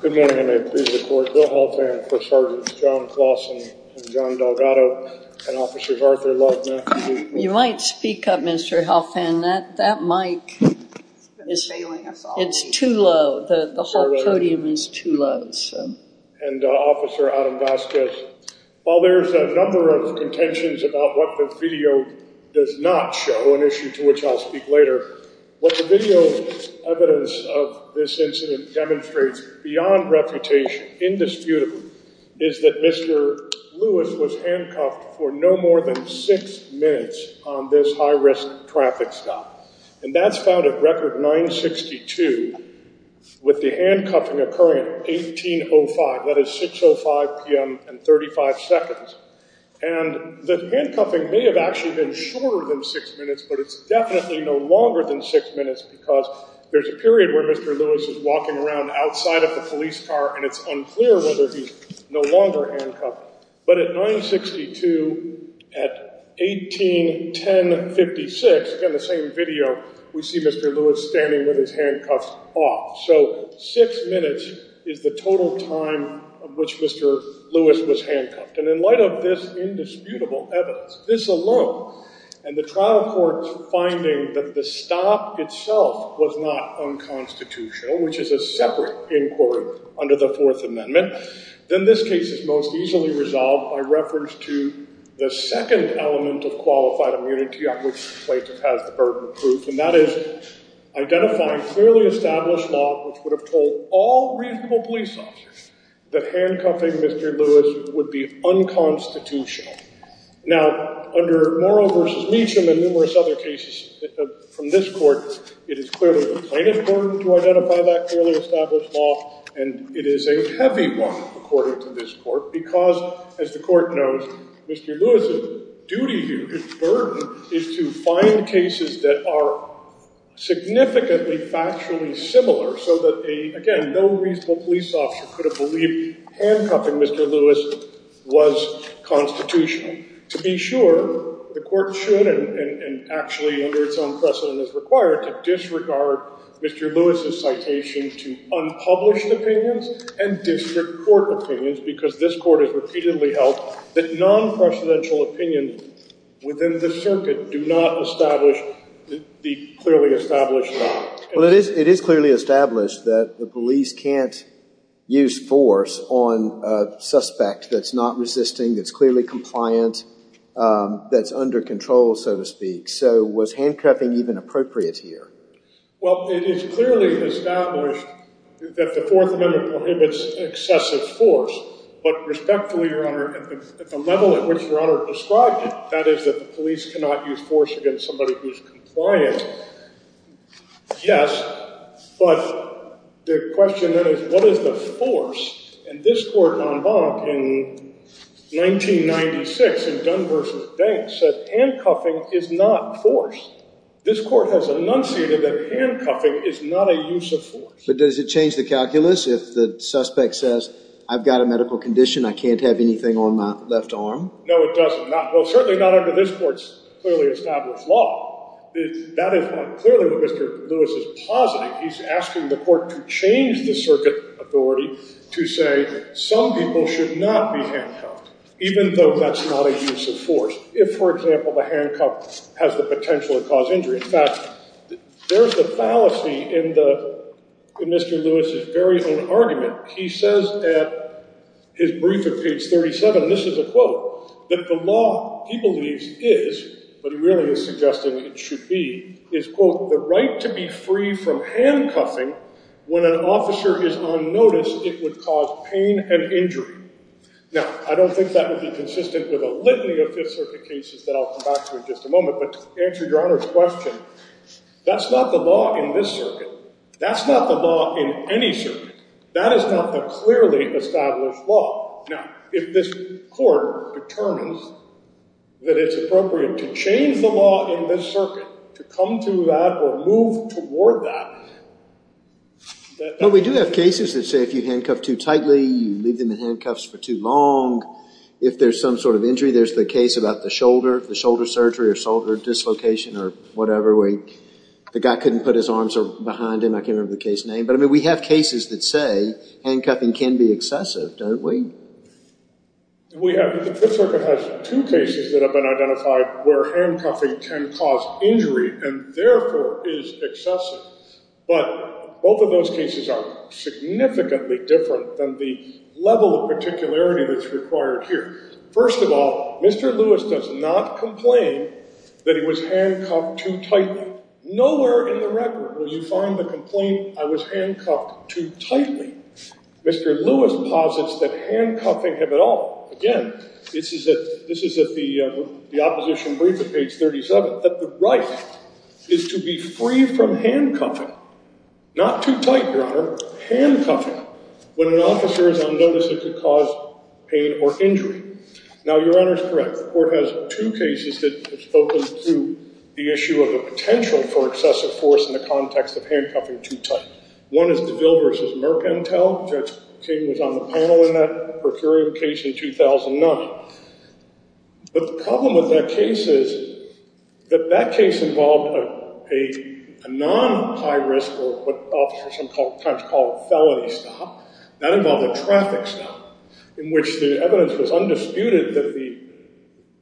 Good morning, I am pleased to report Bill Helfand, Sgt. John Clawson and John Delgado, and Officers Arthur Love and Matthew B. You might speak up Mr. Helfand, that mic is too low, the whole podium is too low. And Officer Adam Vasquez. While there is a number of contentions about what the video does not show, an issue to which I will speak later, what the video evidence of this incident demonstrates beyond reputation, indisputable, is that Mr. Lewis was handcuffed for no more than six minutes on this high risk traffic stop. And that's found at record 962 with the handcuffing occurring at 1805, that is 6.05pm and 35 seconds. And the handcuffing may have actually been shorter than six minutes, but it's definitely no longer than six minutes because there's a period where Mr. Lewis is walking around outside of the police car and it's unclear whether he's no longer handcuffed. But at 962, at 1810.56, again the same video, we see Mr. Lewis standing with his handcuffs off. So six minutes is the total time of which Mr. Lewis was handcuffed. And in light of this indisputable evidence, this alone, and the trial court's finding that the stop itself was not unconstitutional, which is a separate inquiry under the Fourth Amendment, then this case is most easily resolved by reference to the second element of qualified immunity on which the plaintiff has the burden of proof, and that is identifying clearly established law which would have told all reasonable police officers that handcuffing Mr. Lewis would be unconstitutional. Now, under Morrow v. Meacham and numerous other cases from this Court, it is clearly the plaintiff's burden to identify that clearly established law, and it is a heavy one according to this Court because, as the Court knows, Mr. Lewis's duty here, his burden, is to find cases that are significantly factually similar so that a, again, no reasonable police officer could have believed handcuffing Mr. Lewis was constitutional. And to be sure, the Court should, and actually under its own precedent is required, to disregard Mr. Lewis's citation to unpublished opinions and district court opinions because this Court has repeatedly held that non-presidential opinions within the circuit do not establish the clearly established law. Well, it is clearly established that the police can't use force on a suspect that's not resisting, that's clearly compliant, that's under control, so to speak. So was handcuffing even appropriate here? Well, it is clearly established that the Fourth Amendment prohibits excessive force, but respectfully, Your Honor, at the level at which Your Honor described it, that is that the police cannot use force against somebody who's compliant, yes, but the question then is what is the force? And this Court en banc in 1996 in Dunn v. Banks said handcuffing is not force. This Court has enunciated that handcuffing is not a use of force. But does it change the calculus if the suspect says, I've got a medical condition, I can't have anything on my left arm? No, it doesn't. Well, certainly not under this Court's clearly established law. That is what clearly Mr. Lewis is positing. He's asking the Court to change the circuit authority to say some people should not be handcuffed, even though that's not a use of force if, for example, the handcuff has the potential to cause injury. In fact, there's a fallacy in Mr. Lewis' very own argument. He says at his brief at page 37, and this is a quote, that the law, he believes, is, but he really is suggesting it should be, is, quote, the right to be free from handcuffing when an officer is unnoticed, it would cause pain and injury. Now, I don't think that would be consistent with a litany of Fifth Circuit cases that I'll come back to in just a moment, but to answer Your Honor's question, that's not the law in this circuit. That's not the law in any circuit. That is not the clearly established law. Now, if this Court determines that it's appropriate to change the law in this circuit, to come to that or move toward that. But we do have cases that say if you handcuff too tightly, you leave them in handcuffs for too long, if there's some sort of injury, there's the case about the shoulder, the shoulder surgery or shoulder dislocation or whatever, where the guy couldn't put his arms behind him, I can't remember the case name. But, I mean, we have cases that say handcuffing can be excessive, don't we? We have. The Fifth Circuit has two cases that have been identified where handcuffing can cause injury and therefore is excessive. But both of those cases are significantly different than the level of particularity that's required here. First of all, Mr. Lewis does not complain that he was handcuffed too tightly. Nowhere in the record will you find the complaint, I was handcuffed too tightly. Mr. Lewis posits that handcuffing have at all, again, this is at the opposition brief at page 37, that the right is to be free from handcuffing, not too tight, Your Honor, handcuffing when an officer is unnoticeable to cause pain or injury. Now, Your Honor is correct. The Court has two cases that have spoken to the issue of the potential for excessive force in the context of handcuffing too tight. One is DeVille v. Mercantile. Judge King was on the panel in that procuring case in 2009. But the problem with that case is that that case involved a non-high risk or what officers sometimes call a felony stop. That involved a traffic stop in which the evidence was undisputed that the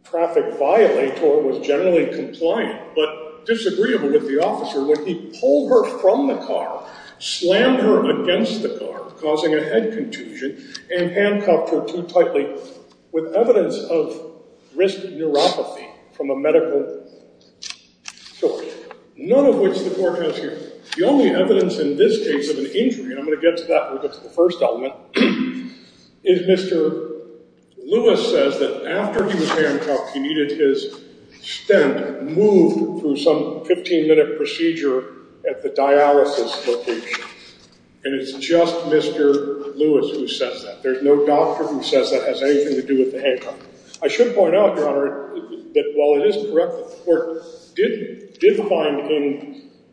traffic violator was generally compliant, but disagreeable with the officer when he pulled her from the car, slammed her against the car, causing a head contusion, and handcuffed her too tightly with evidence of risk neuropathy from a medical story. None of which the Court has here. The only evidence in this case of an injury, and I'm going to get to that when we get to the first element, is Mr. Lewis says that after he was handcuffed he needed his stent moved through some 15-minute procedure at the dialysis location. And it's just Mr. Lewis who says that. There's no doctor who says that has anything to do with the handcuff. I should point out, Your Honor, that while it is correct that the Court did find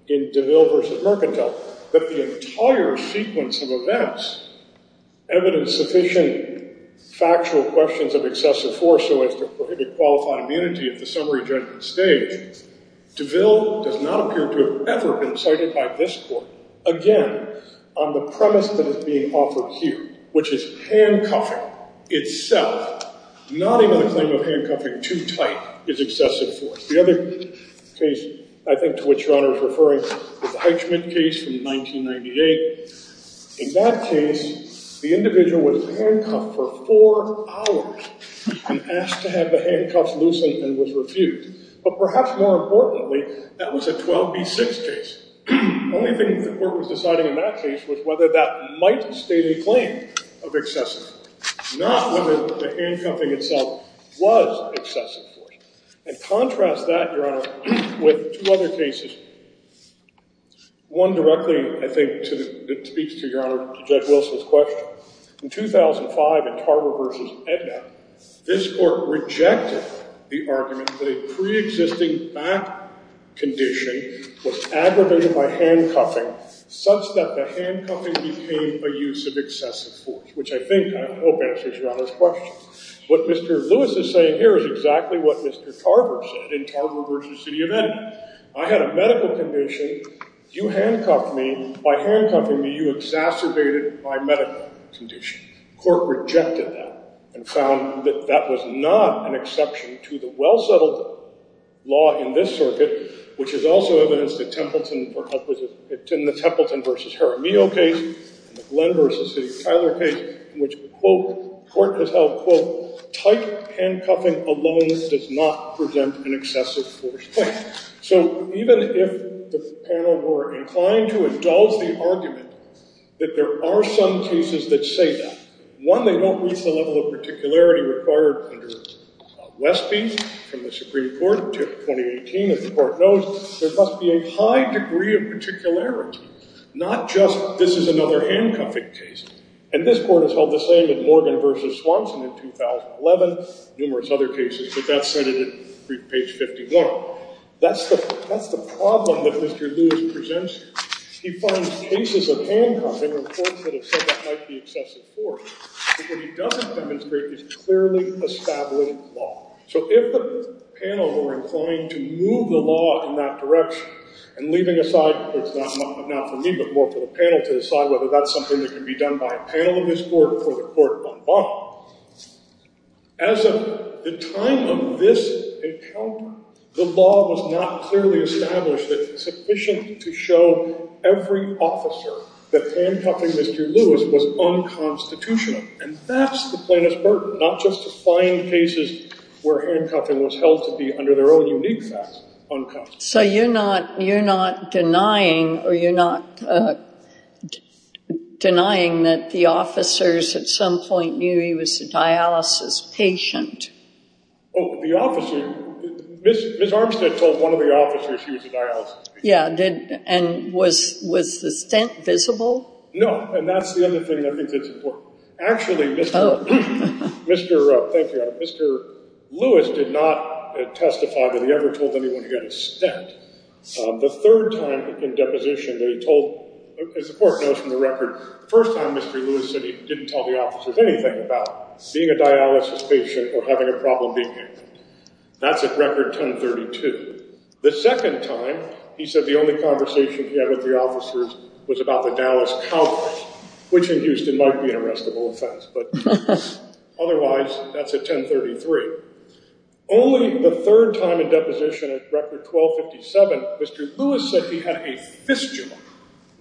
in DeVille v. Mercantile that the entire sequence of events evidence sufficient factual questions of excessive force so as to prohibit qualified immunity at the summary judgment stage, DeVille does not appear to have ever been cited by this Court, again, on the premise that is being offered here, which is handcuffing itself, not even the claim of handcuffing too tight is excessive force. The other case I think to which Your Honor is referring is the Heitchman case from 1998. In that case, the individual was handcuffed for four hours and asked to have the handcuffs loosened and was refused. But perhaps more importantly, that was a 12B6 case. The only thing the Court was deciding in that case was whether that might state a claim of excessive force, not whether the handcuffing itself was excessive force. And contrast that, Your Honor, with two other cases. One directly, I think, speaks to Your Honor, to Judge Wilson's question. In 2005 at Tarver v. Edna, this Court rejected the argument that a preexisting back condition was aggravated by handcuffing such that the handcuffing became a use of excessive force, which I think, I hope, answers Your Honor's question. What Mr. Lewis is saying here is exactly what Mr. Tarver said in Tarver v. City of Edna. I had a medical condition. You handcuffed me. By handcuffing me, you exacerbated my medical condition. The Court rejected that and found that that was not an exception to the well-settled law in this circuit, which is also evidenced in the Templeton v. Jaramillo case, and the Glenn v. City of Tyler case, in which the Court has held, quote, tight handcuffing alone does not present an excessive force claim. So even if the panel were inclined to indulge the argument that there are some cases that say that, one, they don't reach the level of particularity required under Westby from the Supreme Court in 2018, as the Court knows, there must be a high degree of particularity. Not just this is another handcuffing case. And this Court has held the same in Morgan v. Swanson in 2011, numerous other cases, but that's cited at page 51. That's the problem that Mr. Lewis presents. He finds cases of handcuffing in courts that have said that might be excessive force. But what he doesn't demonstrate is clearly established law. So if the panel were inclined to move the law in that direction and leaving aside, not for me, but more for the panel to decide whether that's something that can be done by a panel in this Court or the Court on bond, as of the time of this encounter, the law was not clearly established sufficient to show every officer that handcuffing Mr. Lewis was unconstitutional. And that's the plaintiff's burden, not just to find cases where handcuffing was held to be, under their own unique facts, unconstitutional. So you're not denying that the officers at some point knew he was a dialysis patient? Oh, the officer. Ms. Armstead told one of the officers she was a dialysis patient. Yeah, and was the stent visible? No, and that's the other thing I think that's important. Actually, Mr. Lewis did not testify that he ever told anyone he had a stent. The third time in deposition that he told, as the Court knows from the record, the first time Mr. Lewis said he didn't tell the officers anything about being a dialysis patient or having a problem being handcuffed. That's at Record 1032. The second time he said the only conversation he had with the officers was about the Dallas Cowboys, which in Houston might be an arrestable offense, but otherwise, that's at 1033. Only the third time in deposition at Record 1257, Mr. Lewis said he had a fistula,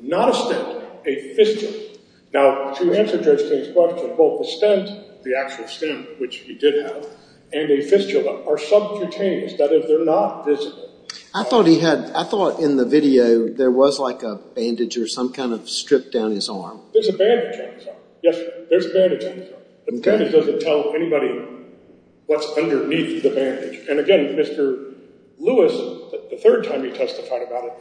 not a stent, a fistula. Now, to answer Judge King's question, both the stent, the actual stent, which he did have, and a fistula are subcutaneous. That is, they're not visible. I thought in the video there was like a bandage or some kind of strip down his arm. There's a bandage on his arm. Yes, there's a bandage on his arm. The bandage doesn't tell anybody what's underneath the bandage. And again, Mr. Lewis, the third time he testified about it,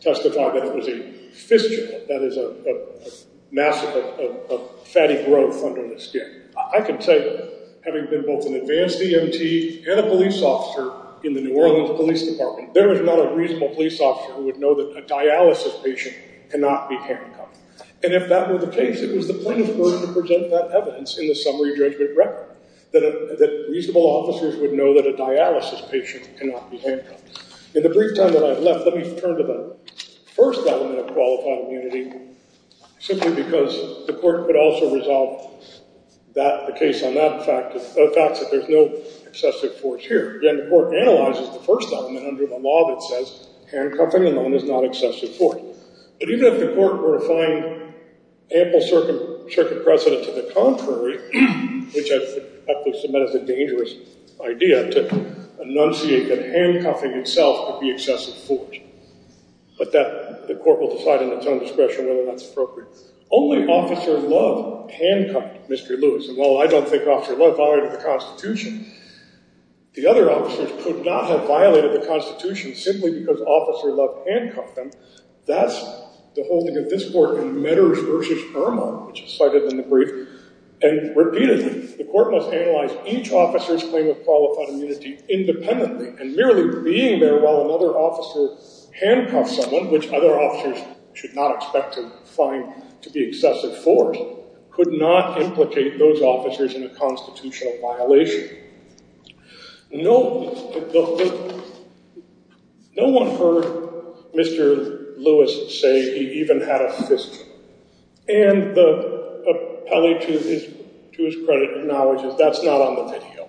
testified that it was a fistula. That is a mass of fatty growth under the skin. I can tell you that having been both an advanced EMT and a police officer in the New Orleans Police Department, there is not a reasonable police officer who would know that a dialysis patient cannot be handcuffed. And if that were the case, it was the plaintiff's burden to present that evidence in the summary judgment record, that reasonable officers would know that a dialysis patient cannot be handcuffed. In the brief time that I have left, let me turn to the first element of qualified immunity, simply because the court could also resolve the case on that fact, the fact that there's no excessive force here. Again, the court analyzes the first element under the law that says handcuffing alone is not excessive force. But even if the court were to find ample circuit precedent to the contrary, which I think is a dangerous idea to enunciate that handcuffing itself could be excessive force, but the court will decide in its own discretion whether that's appropriate. Only Officer Love handcuffed Mr. Lewis. And while I don't think Officer Love violated the Constitution, the other officers could not have violated the Constitution simply because Officer Love handcuffed them. That's the holding of this court in Medders v. Irma, which is cited in the brief. And repeatedly, the court must analyze each officer's claim of qualified immunity independently and merely being there while another officer handcuffs someone, which other officers should not expect to find to be excessive force, could not implicate those officers in a constitutional violation. No one heard Mr. Lewis say he even had a fist. And the appellee, to his credit, acknowledges that's not on the video.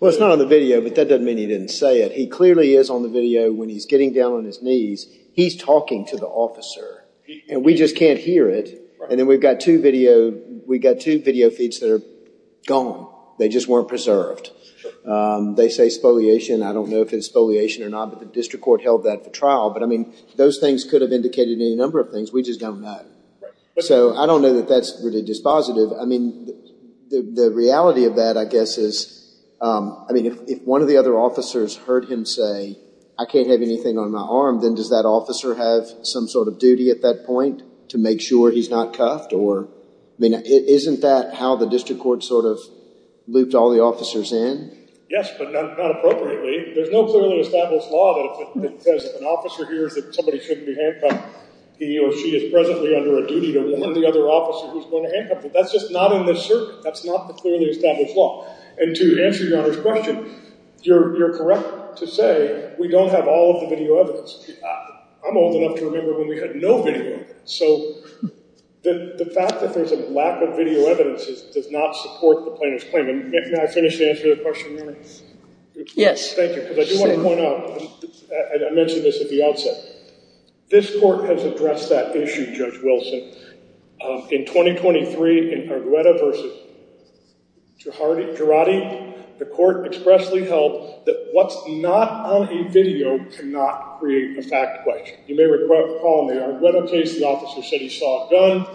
Well, it's not on the video, but that doesn't mean he didn't say it. He clearly is on the video when he's getting down on his knees. He's talking to the officer, and we just can't hear it. And then we've got two video feeds that are gone. They just weren't preserved. They say spoliation. I don't know if it's spoliation or not, but the district court held that for trial. But, I mean, those things could have indicated any number of things. We just don't know. So I don't know that that's really dispositive. I mean, the reality of that, I guess, is, I mean, if one of the other officers heard him say, I can't have anything on my arm, then does that officer have some sort of duty at that point to make sure he's not cuffed? Or, I mean, isn't that how the district court sort of looped all the officers in? Yes, but not appropriately. There's no clearly established law that says if an officer hears that somebody shouldn't be handcuffed, he or she is presently under a duty to warn the other officer who's going to handcuff them. That's just not in this circuit. That's not the clearly established law. And to answer Your Honor's question, you're correct to say we don't have all of the video evidence. I'm old enough to remember when we had no video evidence. So the fact that there's a lack of video evidence does not support the plaintiff's claim. May I finish to answer your question, Your Honor? Yes. Thank you, because I do want to point out, and I mentioned this at the outset, this court has addressed that issue, Judge Wilson. In 2023, in Argueta v. Girardi, the court expressly held that what's not on a video cannot create a fact question. You may recall in the Argueta case, the officer said he saw a gun.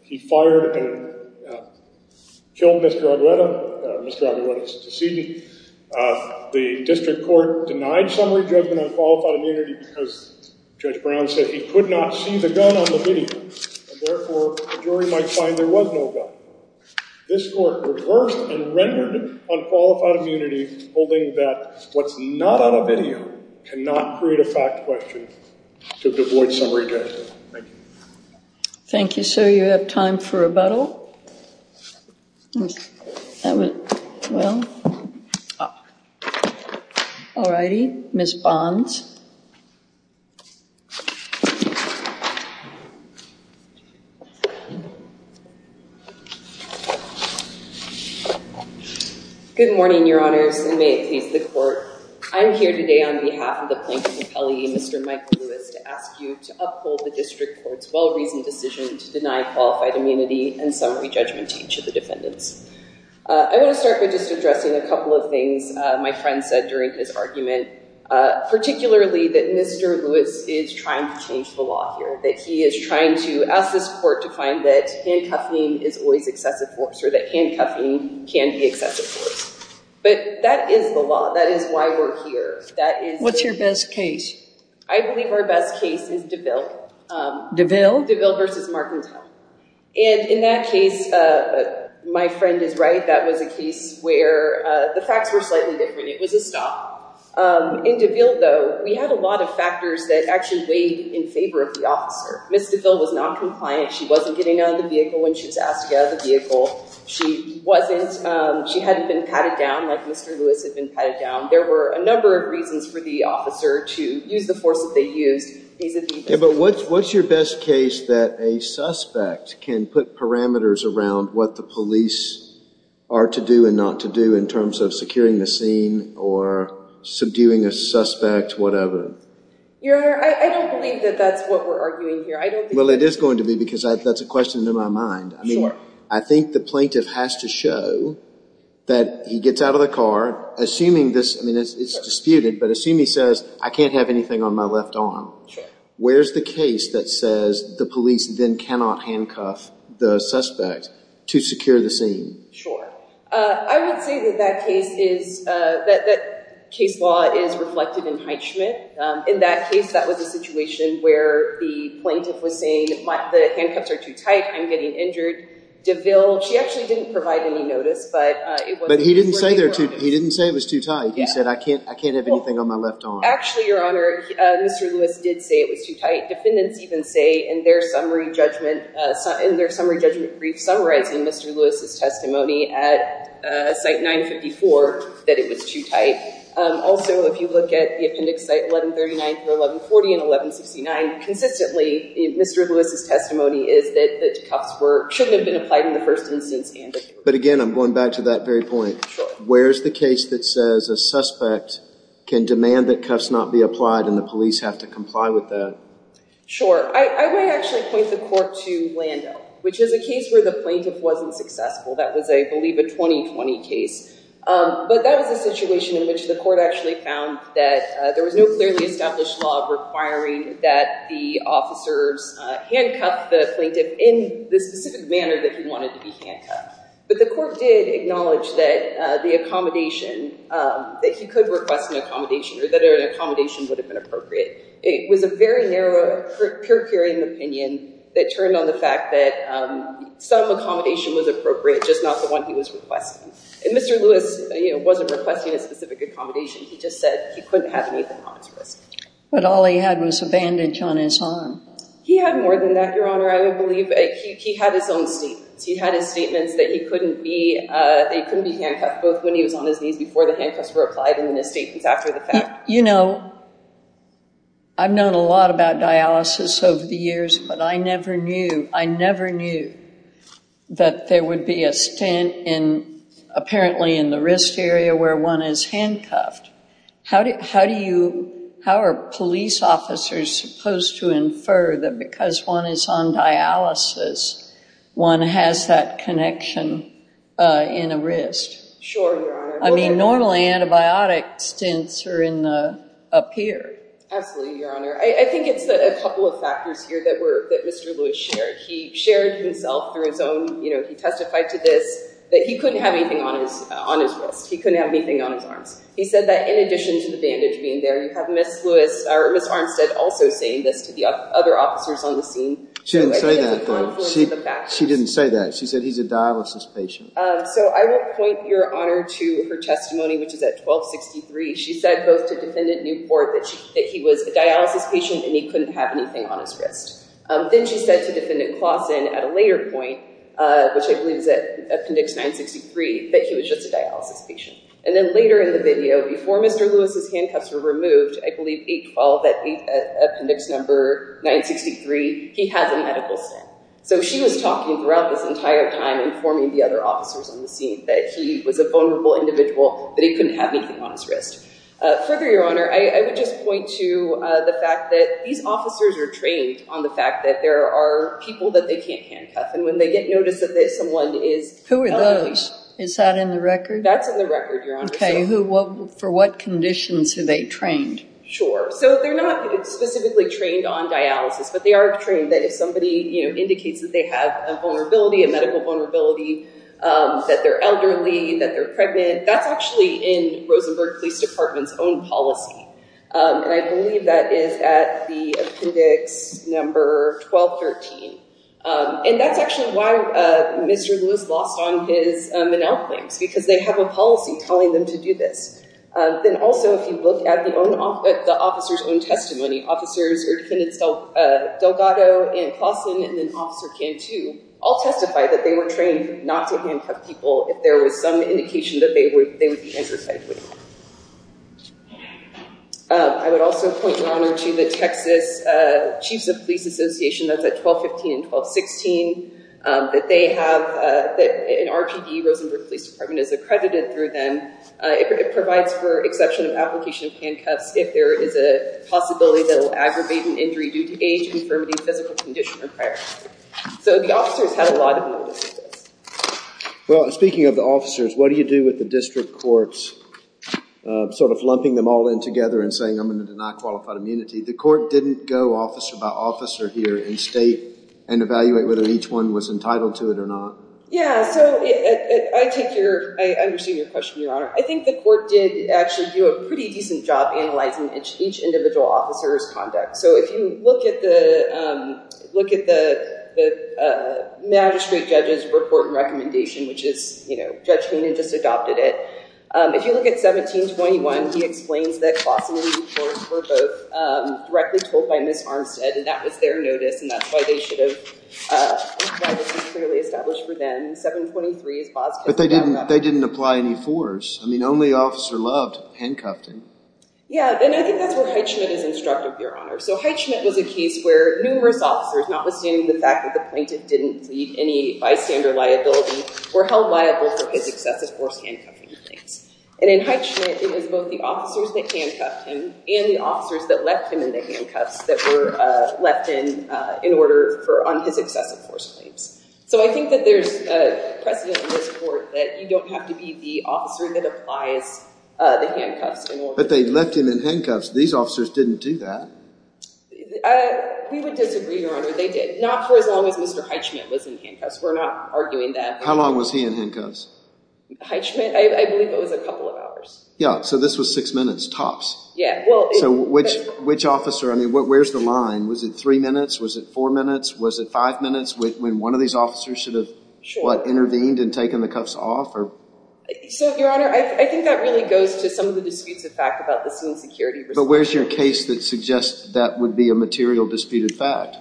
He fired and killed Mr. Argueta. Mr. Argueta is deceased. The district court denied summary judgment on qualified immunity because Judge Brown said he could not see the gun on the video, and therefore the jury might find there was no gun. This court reversed and rendered unqualified immunity, holding that what's not on a video cannot create a fact question to avoid summary judgment. Thank you. Thank you, sir. You have time for rebuttal. That went well. All righty. Ms. Bonds. Good morning, Your Honors, and may it please the court. I'm here today on behalf of the Plaintiff's Appellee, Mr. Michael Lewis, to ask you to uphold the district court's well-reasoned decision to deny qualified immunity and summary judgment to each of the defendants. I want to start by just addressing a couple of things my friend said during his argument, particularly that Mr. Lewis is trying to change the law here, that he is trying to ask this court to find that handcuffing is always excessive force or that handcuffing can be excessive force. But that is the law. That is why we're here. What's your best case? I believe our best case is DeVille. DeVille? DeVille versus Marcantel. In that case, my friend is right. That was a case where the facts were slightly different. It was a stop. In DeVille, though, we had a lot of factors that actually weighed in favor of the officer. Ms. DeVille was noncompliant. She wasn't getting out of the vehicle when she was asked to get out of the vehicle. She hadn't been patted down like Mr. Lewis had been patted down. There were a number of reasons for the officer to use the force that they used. But what's your best case that a suspect can put parameters around what the police are to do and not to do in terms of securing the scene or subduing a suspect, whatever? Your Honor, I don't believe that that's what we're arguing here. Well, it is going to be because that's a question in my mind. I think the plaintiff has to show that he gets out of the car, assuming this is disputed, but assume he says, I can't have anything on my left arm. Sure. Where's the case that says the police then cannot handcuff the suspect to secure the scene? Sure. I would say that that case is—that case law is reflected in Heitschmidt. In that case, that was a situation where the plaintiff was saying, the handcuffs are too tight, I'm getting injured. DeVille, she actually didn't provide any notice, but it was— But he didn't say it was too tight. He said, I can't have anything on my left arm. Actually, Your Honor, Mr. Lewis did say it was too tight. Defendants even say in their summary judgment brief, summarizing Mr. Lewis' testimony at Site 954, that it was too tight. Also, if you look at the appendix, Site 1139 through 1140 and 1169, consistently, Mr. Lewis' testimony is that the cuffs shouldn't have been applied in the first instance. But again, I'm going back to that very point. Sure. Where is the case that says a suspect can demand that cuffs not be applied and the police have to comply with that? Sure. I would actually point the court to Lando, which is a case where the plaintiff wasn't successful. That was, I believe, a 2020 case. But that was a situation in which the court actually found that there was no clearly established law requiring that the officers handcuff the plaintiff in the specific manner that he wanted to be handcuffed. But the court did acknowledge that the accommodation, that he could request an accommodation or that an accommodation would have been appropriate. It was a very narrow, pure hearing opinion that turned on the fact that some accommodation was appropriate, just not the one he was requesting. And Mr. Lewis wasn't requesting a specific accommodation. He just said he couldn't have anything on his wrist. But all he had was a bandage on his arm. He had more than that, Your Honor. I would believe he had his own statements. He had his statements that he couldn't be handcuffed, both when he was on his knees before the handcuffs were applied and his statements after the fact. You know, I've known a lot about dialysis over the years, but I never knew, I never knew that there would be a stent apparently in the wrist area where one is handcuffed. How do you, how are police officers supposed to infer that because one is on dialysis, one has that connection in a wrist? Sure, Your Honor. I mean, normally antibiotic stents are up here. Absolutely, Your Honor. I think it's a couple of factors here that Mr. Lewis shared. He shared himself through his own, you know, he testified to this, that he couldn't have anything on his wrist. He couldn't have anything on his arms. He said that in addition to the bandage being there, you have Ms. Armstead also saying this to the other officers on the scene. She didn't say that, though. She didn't say that. She said he's a dialysis patient. So I will point, Your Honor, to her testimony, which is at 1263. She said both to Defendant Newport that he was a dialysis patient and he couldn't have anything on his wrist. Then she said to Defendant Clawson at a later point, which I believe is at Appendix 963, that he was just a dialysis patient. And then later in the video, before Mr. Lewis' handcuffs were removed, which I believe 812 at Appendix number 963, he has a medical stamp. So she was talking throughout this entire time informing the other officers on the scene that he was a vulnerable individual, that he couldn't have anything on his wrist. Further, Your Honor, I would just point to the fact that these officers are trained on the fact that there are people that they can't handcuff, and when they get notice that someone is… Who are those? Is that in the record? That's in the record, Your Honor. Okay. And for what conditions are they trained? Sure. So they're not specifically trained on dialysis, but they are trained that if somebody indicates that they have a vulnerability, a medical vulnerability, that they're elderly, that they're pregnant, that's actually in Rosenberg Police Department's own policy. And I believe that is at the Appendix number 1213. And that's actually why Mr. Lewis lost on his Menal claims, because they have a policy telling them to do this. Then also if you look at the officer's own testimony, officers or defendants Delgado and Claussen and then Officer Cantu all testify that they were trained not to handcuff people if there was some indication that they would be handcuffed. I would also point, Your Honor, to the Texas Chiefs of Police Association. That's at 1215 and 1216. That an RPD, Rosenberg Police Department, is accredited through them. It provides for exception of application of handcuffs if there is a possibility that it will aggravate an injury due to age, infirmity, physical condition, or prior. So the officers had a lot of notice of this. Well, speaking of the officers, what do you do with the district courts? Sort of lumping them all in together and saying, I'm going to deny qualified immunity. The court didn't go officer by officer here in state and evaluate whether each one was entitled to it or not. Yeah, so I take your—I understand your question, Your Honor. I think the court did actually do a pretty decent job analyzing each individual officer's conduct. So if you look at the magistrate judge's report and recommendation, which is, you know, Judge Koonin just adopted it. If you look at 1721, he explains that Claussen and these courts were both directly told by Ms. Armstead, and that was their notice, and that's why they should have— why this was clearly established for them. 723 is Bosco's— But they didn't apply any force. I mean, only officer loved handcuffing. Yeah, and I think that's where Heitschmidt is instructive, Your Honor. So Heitschmidt was a case where numerous officers, notwithstanding the fact that the plaintiff didn't lead any bystander liability, were held liable for his excessive force handcuffing the plaintiff. And in Heitschmidt, it was both the officers that handcuffed him and the officers that left him in the handcuffs that were left in in order on his excessive force claims. So I think that there's precedent in this court that you don't have to be the officer that applies the handcuffs in order. But they left him in handcuffs. These officers didn't do that. We would disagree, Your Honor. They did, not for as long as Mr. Heitschmidt was in handcuffs. We're not arguing that. How long was he in handcuffs? Heitschmidt, I believe it was a couple of hours. Yeah, so this was six minutes, tops. Yeah. So which officer? I mean, where's the line? Was it three minutes? Was it four minutes? Was it five minutes when one of these officers should have, what, intervened and taken the cuffs off? So, Your Honor, I think that really goes to some of the disputes of fact about the scene security. But where's your case that suggests that would be a material disputed fact?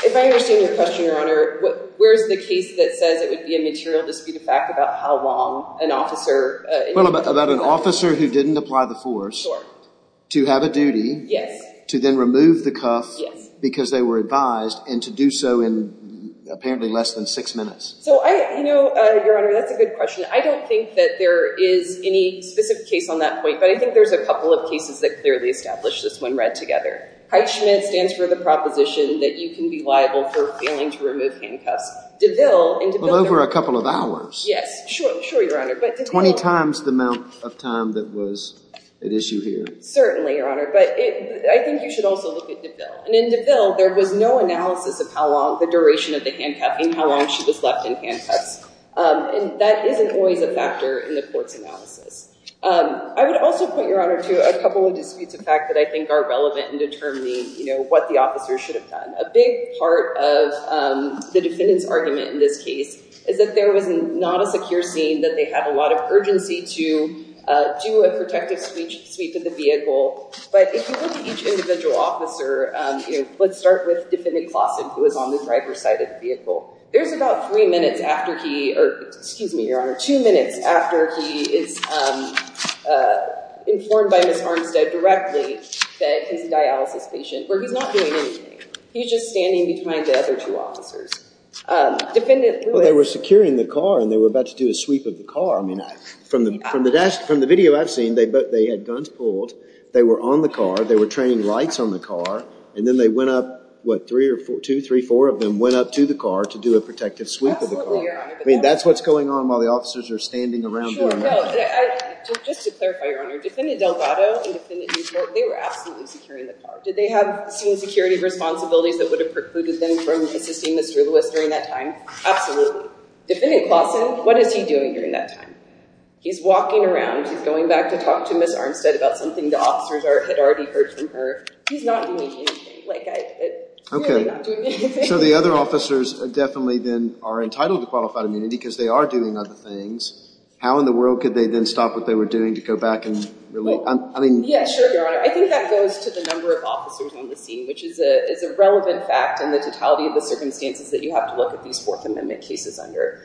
If I understand your question, Your Honor, where's the case that says it would be a material disputed fact about how long an officer in handcuffs was? Well, about an officer who didn't apply the force to have a duty to then remove the cuff because they were advised and to do so in apparently less than six minutes. So, you know, Your Honor, that's a good question. I don't think that there is any specific case on that point, but I think there's a couple of cases that clearly establish this when read together. Heitschmidt stands for the proposition that you can be liable for failing to remove handcuffs. DeVille and DeVille. Well, over a couple of hours. Yes. Sure, Your Honor. 20 times the amount of time that was at issue here. Certainly, Your Honor. But I think you should also look at DeVille. And in DeVille, there was no analysis of how long the duration of the handcuff and how long she was left in handcuffs. And that isn't always a factor in the court's analysis. I would also point, Your Honor, to a couple of disputes of fact that I think are relevant in determining, you know, what the officer should have done. A big part of the defendant's argument in this case is that there was not a secure scene, that they had a lot of urgency to do a protective sweep of the vehicle. But if you look at each individual officer, you know, let's start with Defendant Claussen, who was on the driver's side of the vehicle. There's about three minutes after he, or excuse me, Your Honor, two minutes after he is informed by Ms. Armstead directly that he's a dialysis patient, where he's not doing anything. He's just standing between the other two officers. Well, they were securing the car, and they were about to do a sweep of the car. I mean, from the video I've seen, they had guns pulled. They were on the car. They were training lights on the car. And then they went up, what, three or four, two, three, four of them went up to the car to do a protective sweep of the car. Absolutely, Your Honor. I mean, that's what's going on while the officers are standing around doing that. Just to clarify, Your Honor, Defendant Delgado and Defendant Newport, they were absolutely securing the car. Did they have some security responsibilities that would have precluded them from assisting Mr. Lewis during that time? Absolutely. Defendant Clawson, what is he doing during that time? He's walking around. He's going back to talk to Ms. Armstead about something the officers had already heard from her. He's not doing anything. Like, really not doing anything. So the other officers definitely then are entitled to qualified immunity, because they are doing other things. How in the world could they then stop what they were doing to go back and release? Yeah, sure, Your Honor. I think that goes to the number of officers on the scene, which is a relevant fact in the totality of the circumstances that you have to look at these Fourth Amendment cases under.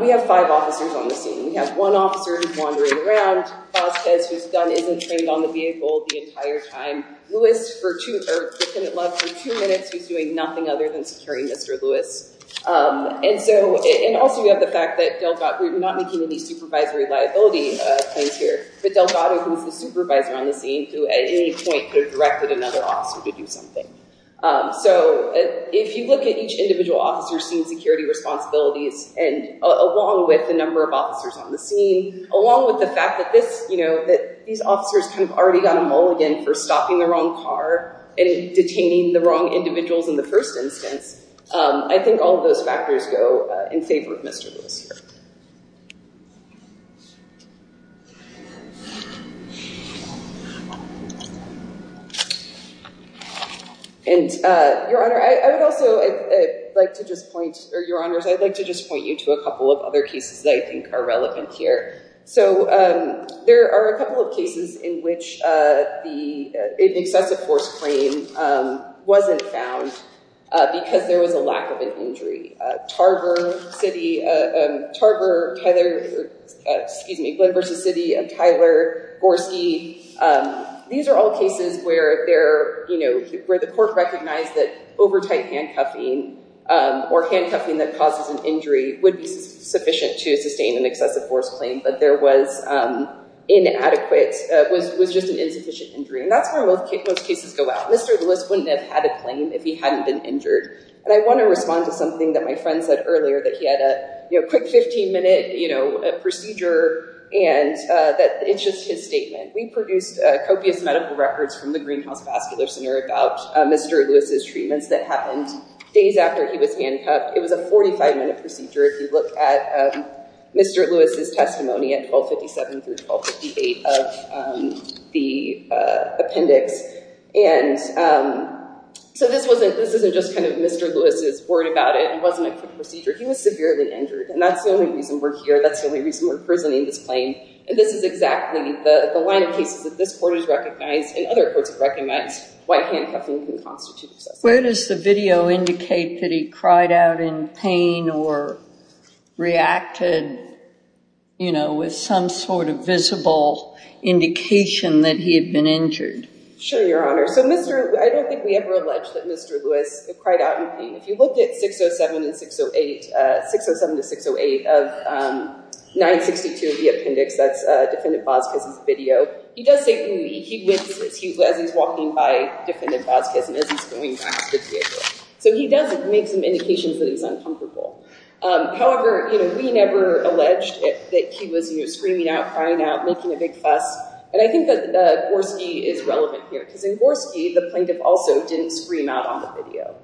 We have five officers on the scene. We have one officer who's wandering around, Vasquez, who's done isn't trained on the vehicle the entire time. Lewis, for two, or Defendant Love, for two minutes, who's doing nothing other than securing Mr. Lewis. And so, and also you have the fact that Delgado, we're not making any supervisory liability claims here, but Delgado, who's the supervisor on the scene, who at any point could have directed another officer to do something. So, if you look at each individual officer's scene security responsibilities, and along with the number of officers on the scene, along with the fact that this, you know, that these officers kind of already got a mulligan for stopping the wrong car, and detaining the wrong individuals in the first instance, I think all of those factors go in favor of Mr. Lewis here. And, Your Honor, I would also like to just point, or Your Honors, I'd like to just point you to a couple of other cases that I think are relevant here. So, there are a couple of cases in which the excessive force claim wasn't found because there was a lack of an injury. Tarver City, Tarver, Tyler, excuse me, Glenversa City, and Tyler Gorski, these are all cases where they're, you know, where the court recognized that overtight handcuffing or handcuffing that causes an injury would be sufficient to sustain an excessive force claim, but there was inadequate, was just an insufficient injury. And that's where most cases go out. Mr. Lewis wouldn't have had a claim if he hadn't been injured. And I want to respond to something that my friend said earlier, that he had a quick 15 minute, you know, procedure, and that it's just his statement. We produced copious medical records from the Greenhouse Vascular Center about Mr. Lewis's treatments that happened days after he was handcuffed. It was a 45 minute procedure if you look at Mr. Lewis's testimony at 1257 through 1258 of the appendix. And so this wasn't, this isn't just kind of Mr. Lewis's word about it. It wasn't a quick procedure. He was severely injured, and that's the only reason we're here. That's the only reason we're prisoning this claim. And this is exactly the line of cases that this court has recognized and other courts have recognized why handcuffing can constitute a success. Where does the video indicate that he cried out in pain or reacted, you know, with some sort of visible indication that he had been injured? Sure, Your Honor. So Mr., I don't think we ever allege that Mr. Lewis cried out in pain. If you look at 607 and 608, 607 to 608 of 962 of the appendix, that's Defendant Boskis' video, he does say he wins as he's walking by Defendant Boskis and as he's going back to the vehicle. So he does make some indications that he's uncomfortable. However, you know, we never alleged that he was, you know, screaming out, crying out, making a big fuss. And I think that Gorski is relevant here because in Gorski, the plaintiff also didn't scream out on the video.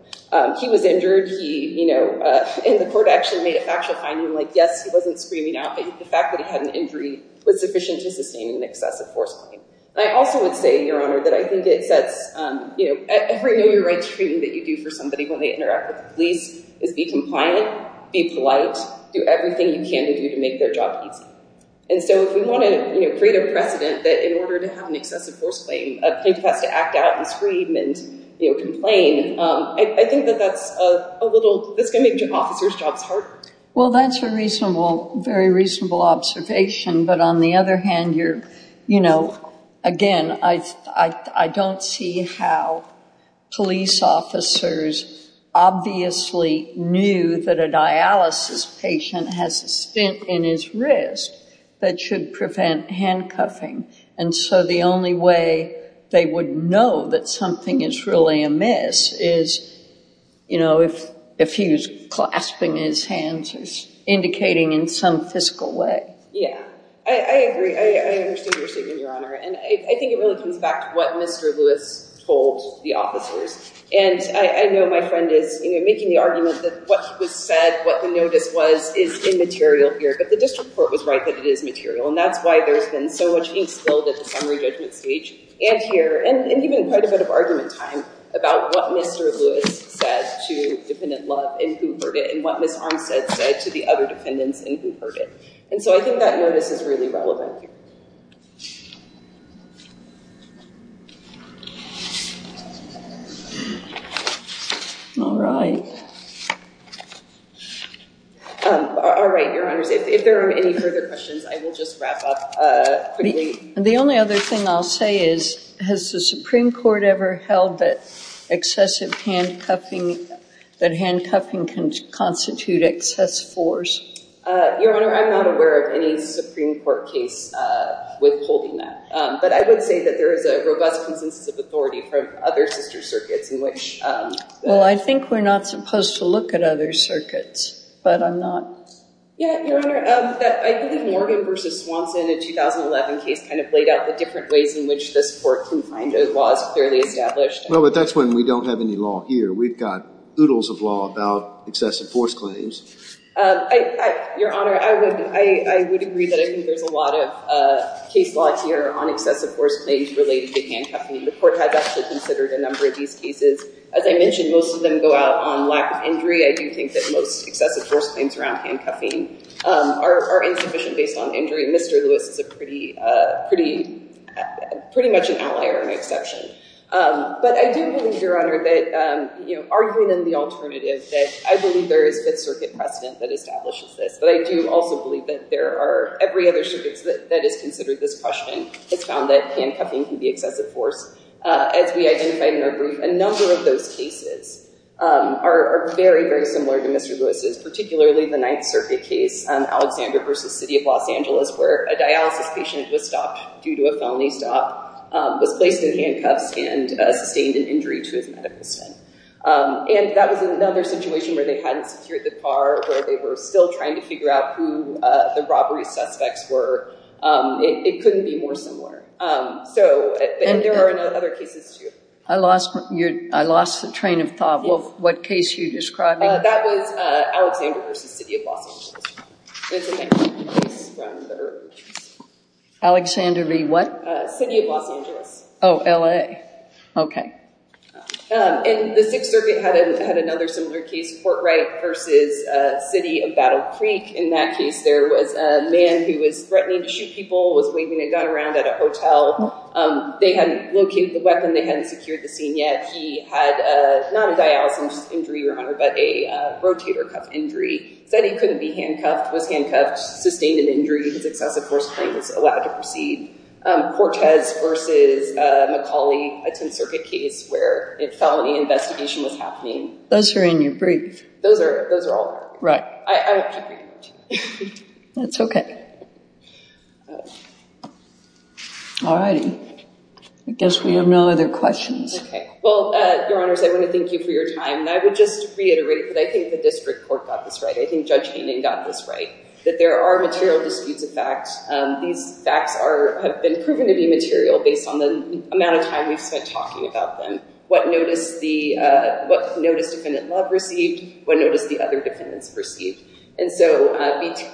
He was injured. He, you know, and the court actually made a factual finding like, yes, he wasn't screaming out, but the fact that he had an injury was sufficient to sustain an excessive force claim. I also would say, Your Honor, that I think it sets, you know, every know-your-right treatment that you do for somebody when they interact with the police is be compliant, be polite, do everything you can to do to make their job easy. And so if we want to, you know, create a precedent that in order to have an excessive force claim, a plaintiff has to act out and scream and, you know, complain, I think that that's a little, that's going to make your officer's jobs harder. Well, that's a reasonable, very reasonable observation. But on the other hand, you're, you know, again, I don't see how police officers obviously knew that a dialysis patient has a stint in his wrist that should prevent handcuffing. And so the only way they would know that something is really amiss is, you know, if he was clasping his hands indicating in some physical way. Yeah, I agree. I understand your statement, Your Honor. And I think it really comes back to what Mr. Lewis told the officers. And I know my friend is, you know, making the argument that what was said, what the notice was, is immaterial here. But the district court was right that it is material. And that's why there's been so much being spilled at the summary judgment stage and here, and even quite a bit of argument time about what Mr. Lewis said to Dependent Love and who heard it and what Ms. Armstead said to the other dependents and who heard it. And so I think that notice is really relevant here. All right. All right, Your Honors. If there are any further questions, I will just wrap up quickly. The only other thing I'll say is, has the Supreme Court ever held that excessive handcuffing, that handcuffing can constitute excess force? Your Honor, I'm not aware of any Supreme Court case withholding that. But I would say that there is a robust consensus of authority from other sister circuits in which... Well, I think we're not supposed to look at other circuits, but I'm not... Yeah, Your Honor, I believe Morgan v. Swanson, a 2011 case, kind of laid out the different ways in which this Court can find laws clearly established. Well, but that's when we don't have any law here. We've got oodles of law about excessive force claims. Your Honor, I would agree that I think there's a lot of case law here on excessive force claims related to handcuffing. The Court has actually considered a number of these cases. As I mentioned, most of them go out on lack of injury. I do think that most excessive force claims around handcuffing are insufficient based on injury. Mr. Lewis is pretty much an outlier and an exception. But I do believe, Your Honor, that arguing in the alternative, I believe there is Fifth Circuit precedent that establishes this, but I do also believe that every other circuit that has considered this question has found that handcuffing can be excessive force. As we identified in our brief, a number of those cases are very, very similar to Mr. Lewis's, particularly the Ninth Circuit case, Alexander v. City of Los Angeles, where a dialysis patient was stopped due to a felony stop, was placed in handcuffs, and sustained an injury to his medical stand. And that was another situation where they hadn't secured the car, where they were still trying to figure out who the robbery suspects were. It couldn't be more similar. So there are other cases, too. I lost the train of thought. What case are you describing? That was Alexander v. City of Los Angeles. Alexander v. what? City of Los Angeles. Oh, L.A., okay. And the Sixth Circuit had another similar case, Portwright v. City of Battle Creek. In that case, there was a man who was threatening to shoot people, was waving a gun around at a hotel. They hadn't located the weapon. They hadn't secured the scene yet. He had not a dialysis injury, Your Honor, but a rotator cuff injury. Said he couldn't be handcuffed, was handcuffed, sustained an injury. His excessive force claim was allowed to proceed. Cortez v. McCauley, a Tenth Circuit case where a felony investigation was happening. Those are in your brief. Those are all there. Right. I have to read it. That's okay. All righty. I guess we have no other questions. Okay. Well, Your Honors, I want to thank you for your time, and I would just reiterate that I think the district court got this right. I think Judge Hayning got this right, that there are material disputes of facts. These facts have been proven to be material based on the amount of time we've spent talking about them. What notice defendant Love received, what notice the other defendants received. And so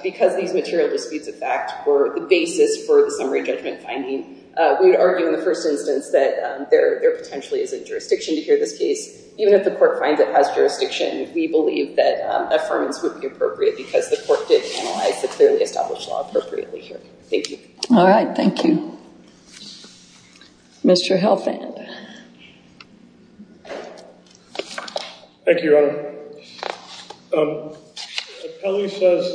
because these material disputes of facts were the basis for the summary judgment finding, we would argue in the first instance that there potentially is a jurisdiction to hear this case. Even if the court finds it has jurisdiction, we believe that affirmance would be appropriate because the court did analyze the clearly established law appropriately here. Thank you. All right. Thank you. Mr. Helfand. Thank you, Your Honor. The appellee says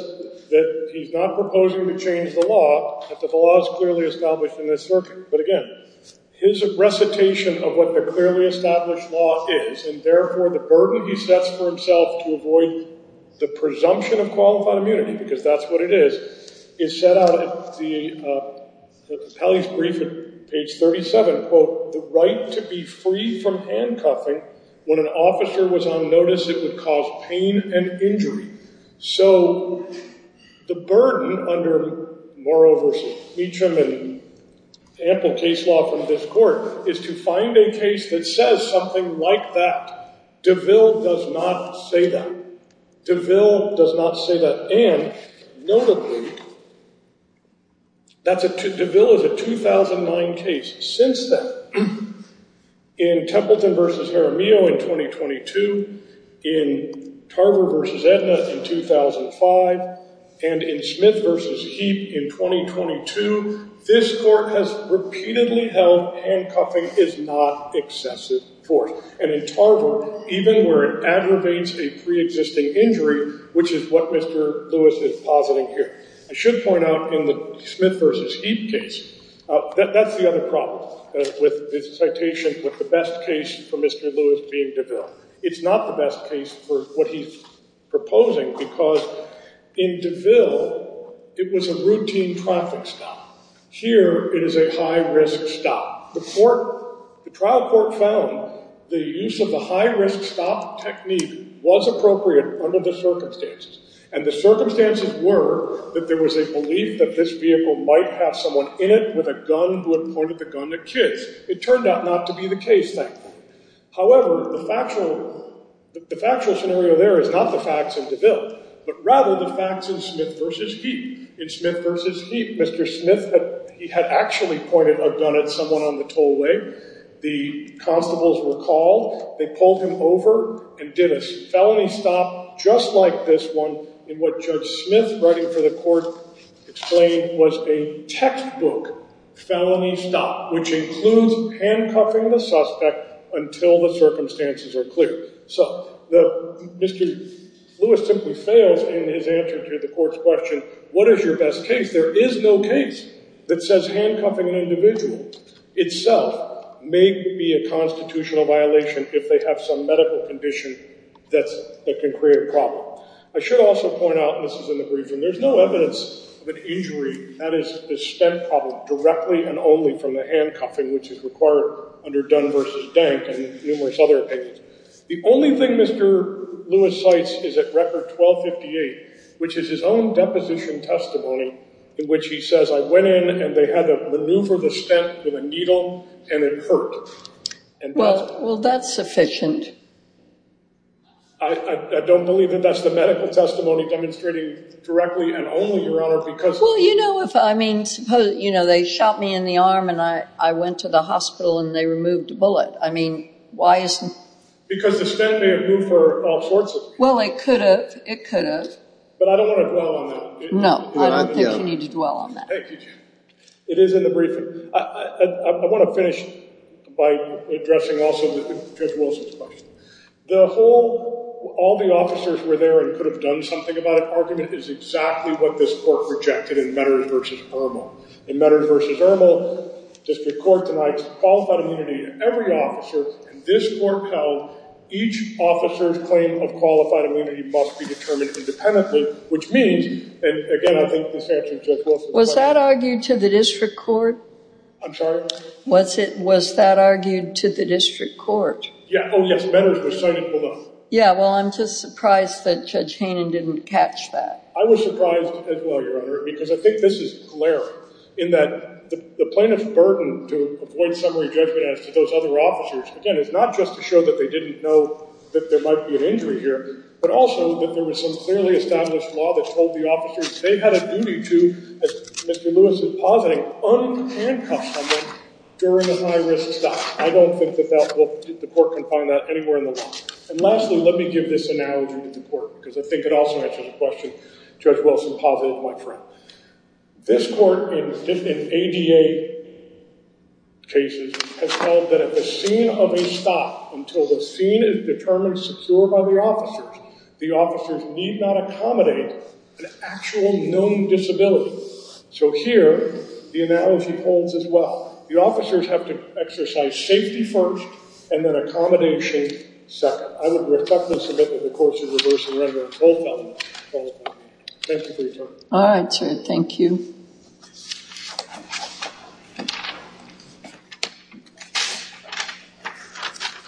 that he's not proposing to change the law if the law is clearly established in this circuit. But again, his recitation of what the clearly established law is, and therefore the burden he sets for himself to avoid the presumption of qualified immunity because that's what it is, is set out at the appellee's brief at page 37, quote, the right to be free from handcuffing when an officer was on notice it would cause pain and injury. So the burden under Morrow v. Meacham and ample case law from this court is to find a case that says something like that. DeVille does not say that. DeVille does not say that. And notably, DeVille is a 2009 case. Since then, in Templeton v. Jaramillo in 2022, in Tarver v. Edna in 2005, and in Smith v. Heap in 2022, this court has repeatedly held handcuffing is not excessive force. And in Tarver, even where it aggravates a preexisting injury, which is what Mr. Lewis is positing here, I should point out in the Smith v. Heap case, that's the other problem with this citation, with the best case for Mr. Lewis being DeVille. It's not the best case for what he's proposing because in DeVille, it was a routine traffic stop. Here, it is a high-risk stop. The trial court found the use of the high-risk stop technique was appropriate under the circumstances. And the circumstances were that there was a belief that this vehicle might have someone in it with a gun who had pointed the gun at kids. It turned out not to be the case, thankfully. However, the factual scenario there is not the facts in DeVille, but rather the facts in Smith v. Heap. In Smith v. Heap, Mr. Smith had actually pointed a gun at someone on the tollway. The constables were called. They pulled him over and did a felony stop just like this one in what Judge Smith, writing for the court, explained was a textbook felony stop, which includes handcuffing the suspect until the circumstances are clear. So Mr. Lewis simply fails in his answer to the court's question, what is your best case? There is no case that says handcuffing an individual itself may be a constitutional violation if they have some medical condition that can create a problem. I should also point out, and this is in the briefing, there's no evidence of an injury, that is, a stent problem, directly and only from the handcuffing, which is required under Dunn v. Dank and numerous other opinions. The only thing Mr. Lewis cites is at Record 1258, which is his own deposition testimony in which he says, I went in and they had to maneuver the stent with a needle and it hurt. Well, that's sufficient. I don't believe that that's the medical testimony demonstrating directly and only, Your Honor, because... Well, you know, if I mean, suppose they shot me in the arm and I went to the hospital and they removed the bullet. I mean, why isn't... Because the stent may have moved for all sorts of reasons. Well, it could have, it could have. But I don't want to dwell on that. No, I don't think you need to dwell on that. Thank you. It is in the briefing. I want to finish by addressing also Judge Wilson's question. The whole, all the officers were there and could have done something about it argument is exactly what this Court rejected in Metters v. Irmel. In Metters v. Irmel, District Court tonight, qualified immunity, every officer in this Court held each officer's claim of qualified immunity must be determined independently, which means, and again, I think this answers Judge Wilson's question. Was that argued to the District Court? I'm sorry? Was it, was that argued to the District Court? Yeah, oh yes, Metters was cited below. Yeah, well, I'm just surprised that Judge Haynen didn't catch that. I was surprised as well, Your Honor, because I think this is glaring in that the plaintiff's burden to avoid summary judgment as to those other officers, again, is not just to show that they didn't know that there might be an injury here, but also that there was some clearly established law that told the officers that they had a duty to, as Mr. Lewis is positing, unhandcuff someone during a high-risk stop. I don't think that the Court can find that anywhere in the law. And lastly, let me give this analogy to the Court, because I think it also answers the question Judge Wilson posited, my friend. This Court, in ADA cases, has held that at the scene of a stop, until the scene is determined secure by the officers, the officers need not accommodate an actual known disability. So here, the analogy holds as well. The officers have to exercise safety first, and then accommodation second. I would reflect on this a bit in the course of reversing renderings. Thank you for your time. All right, sir. Thank you.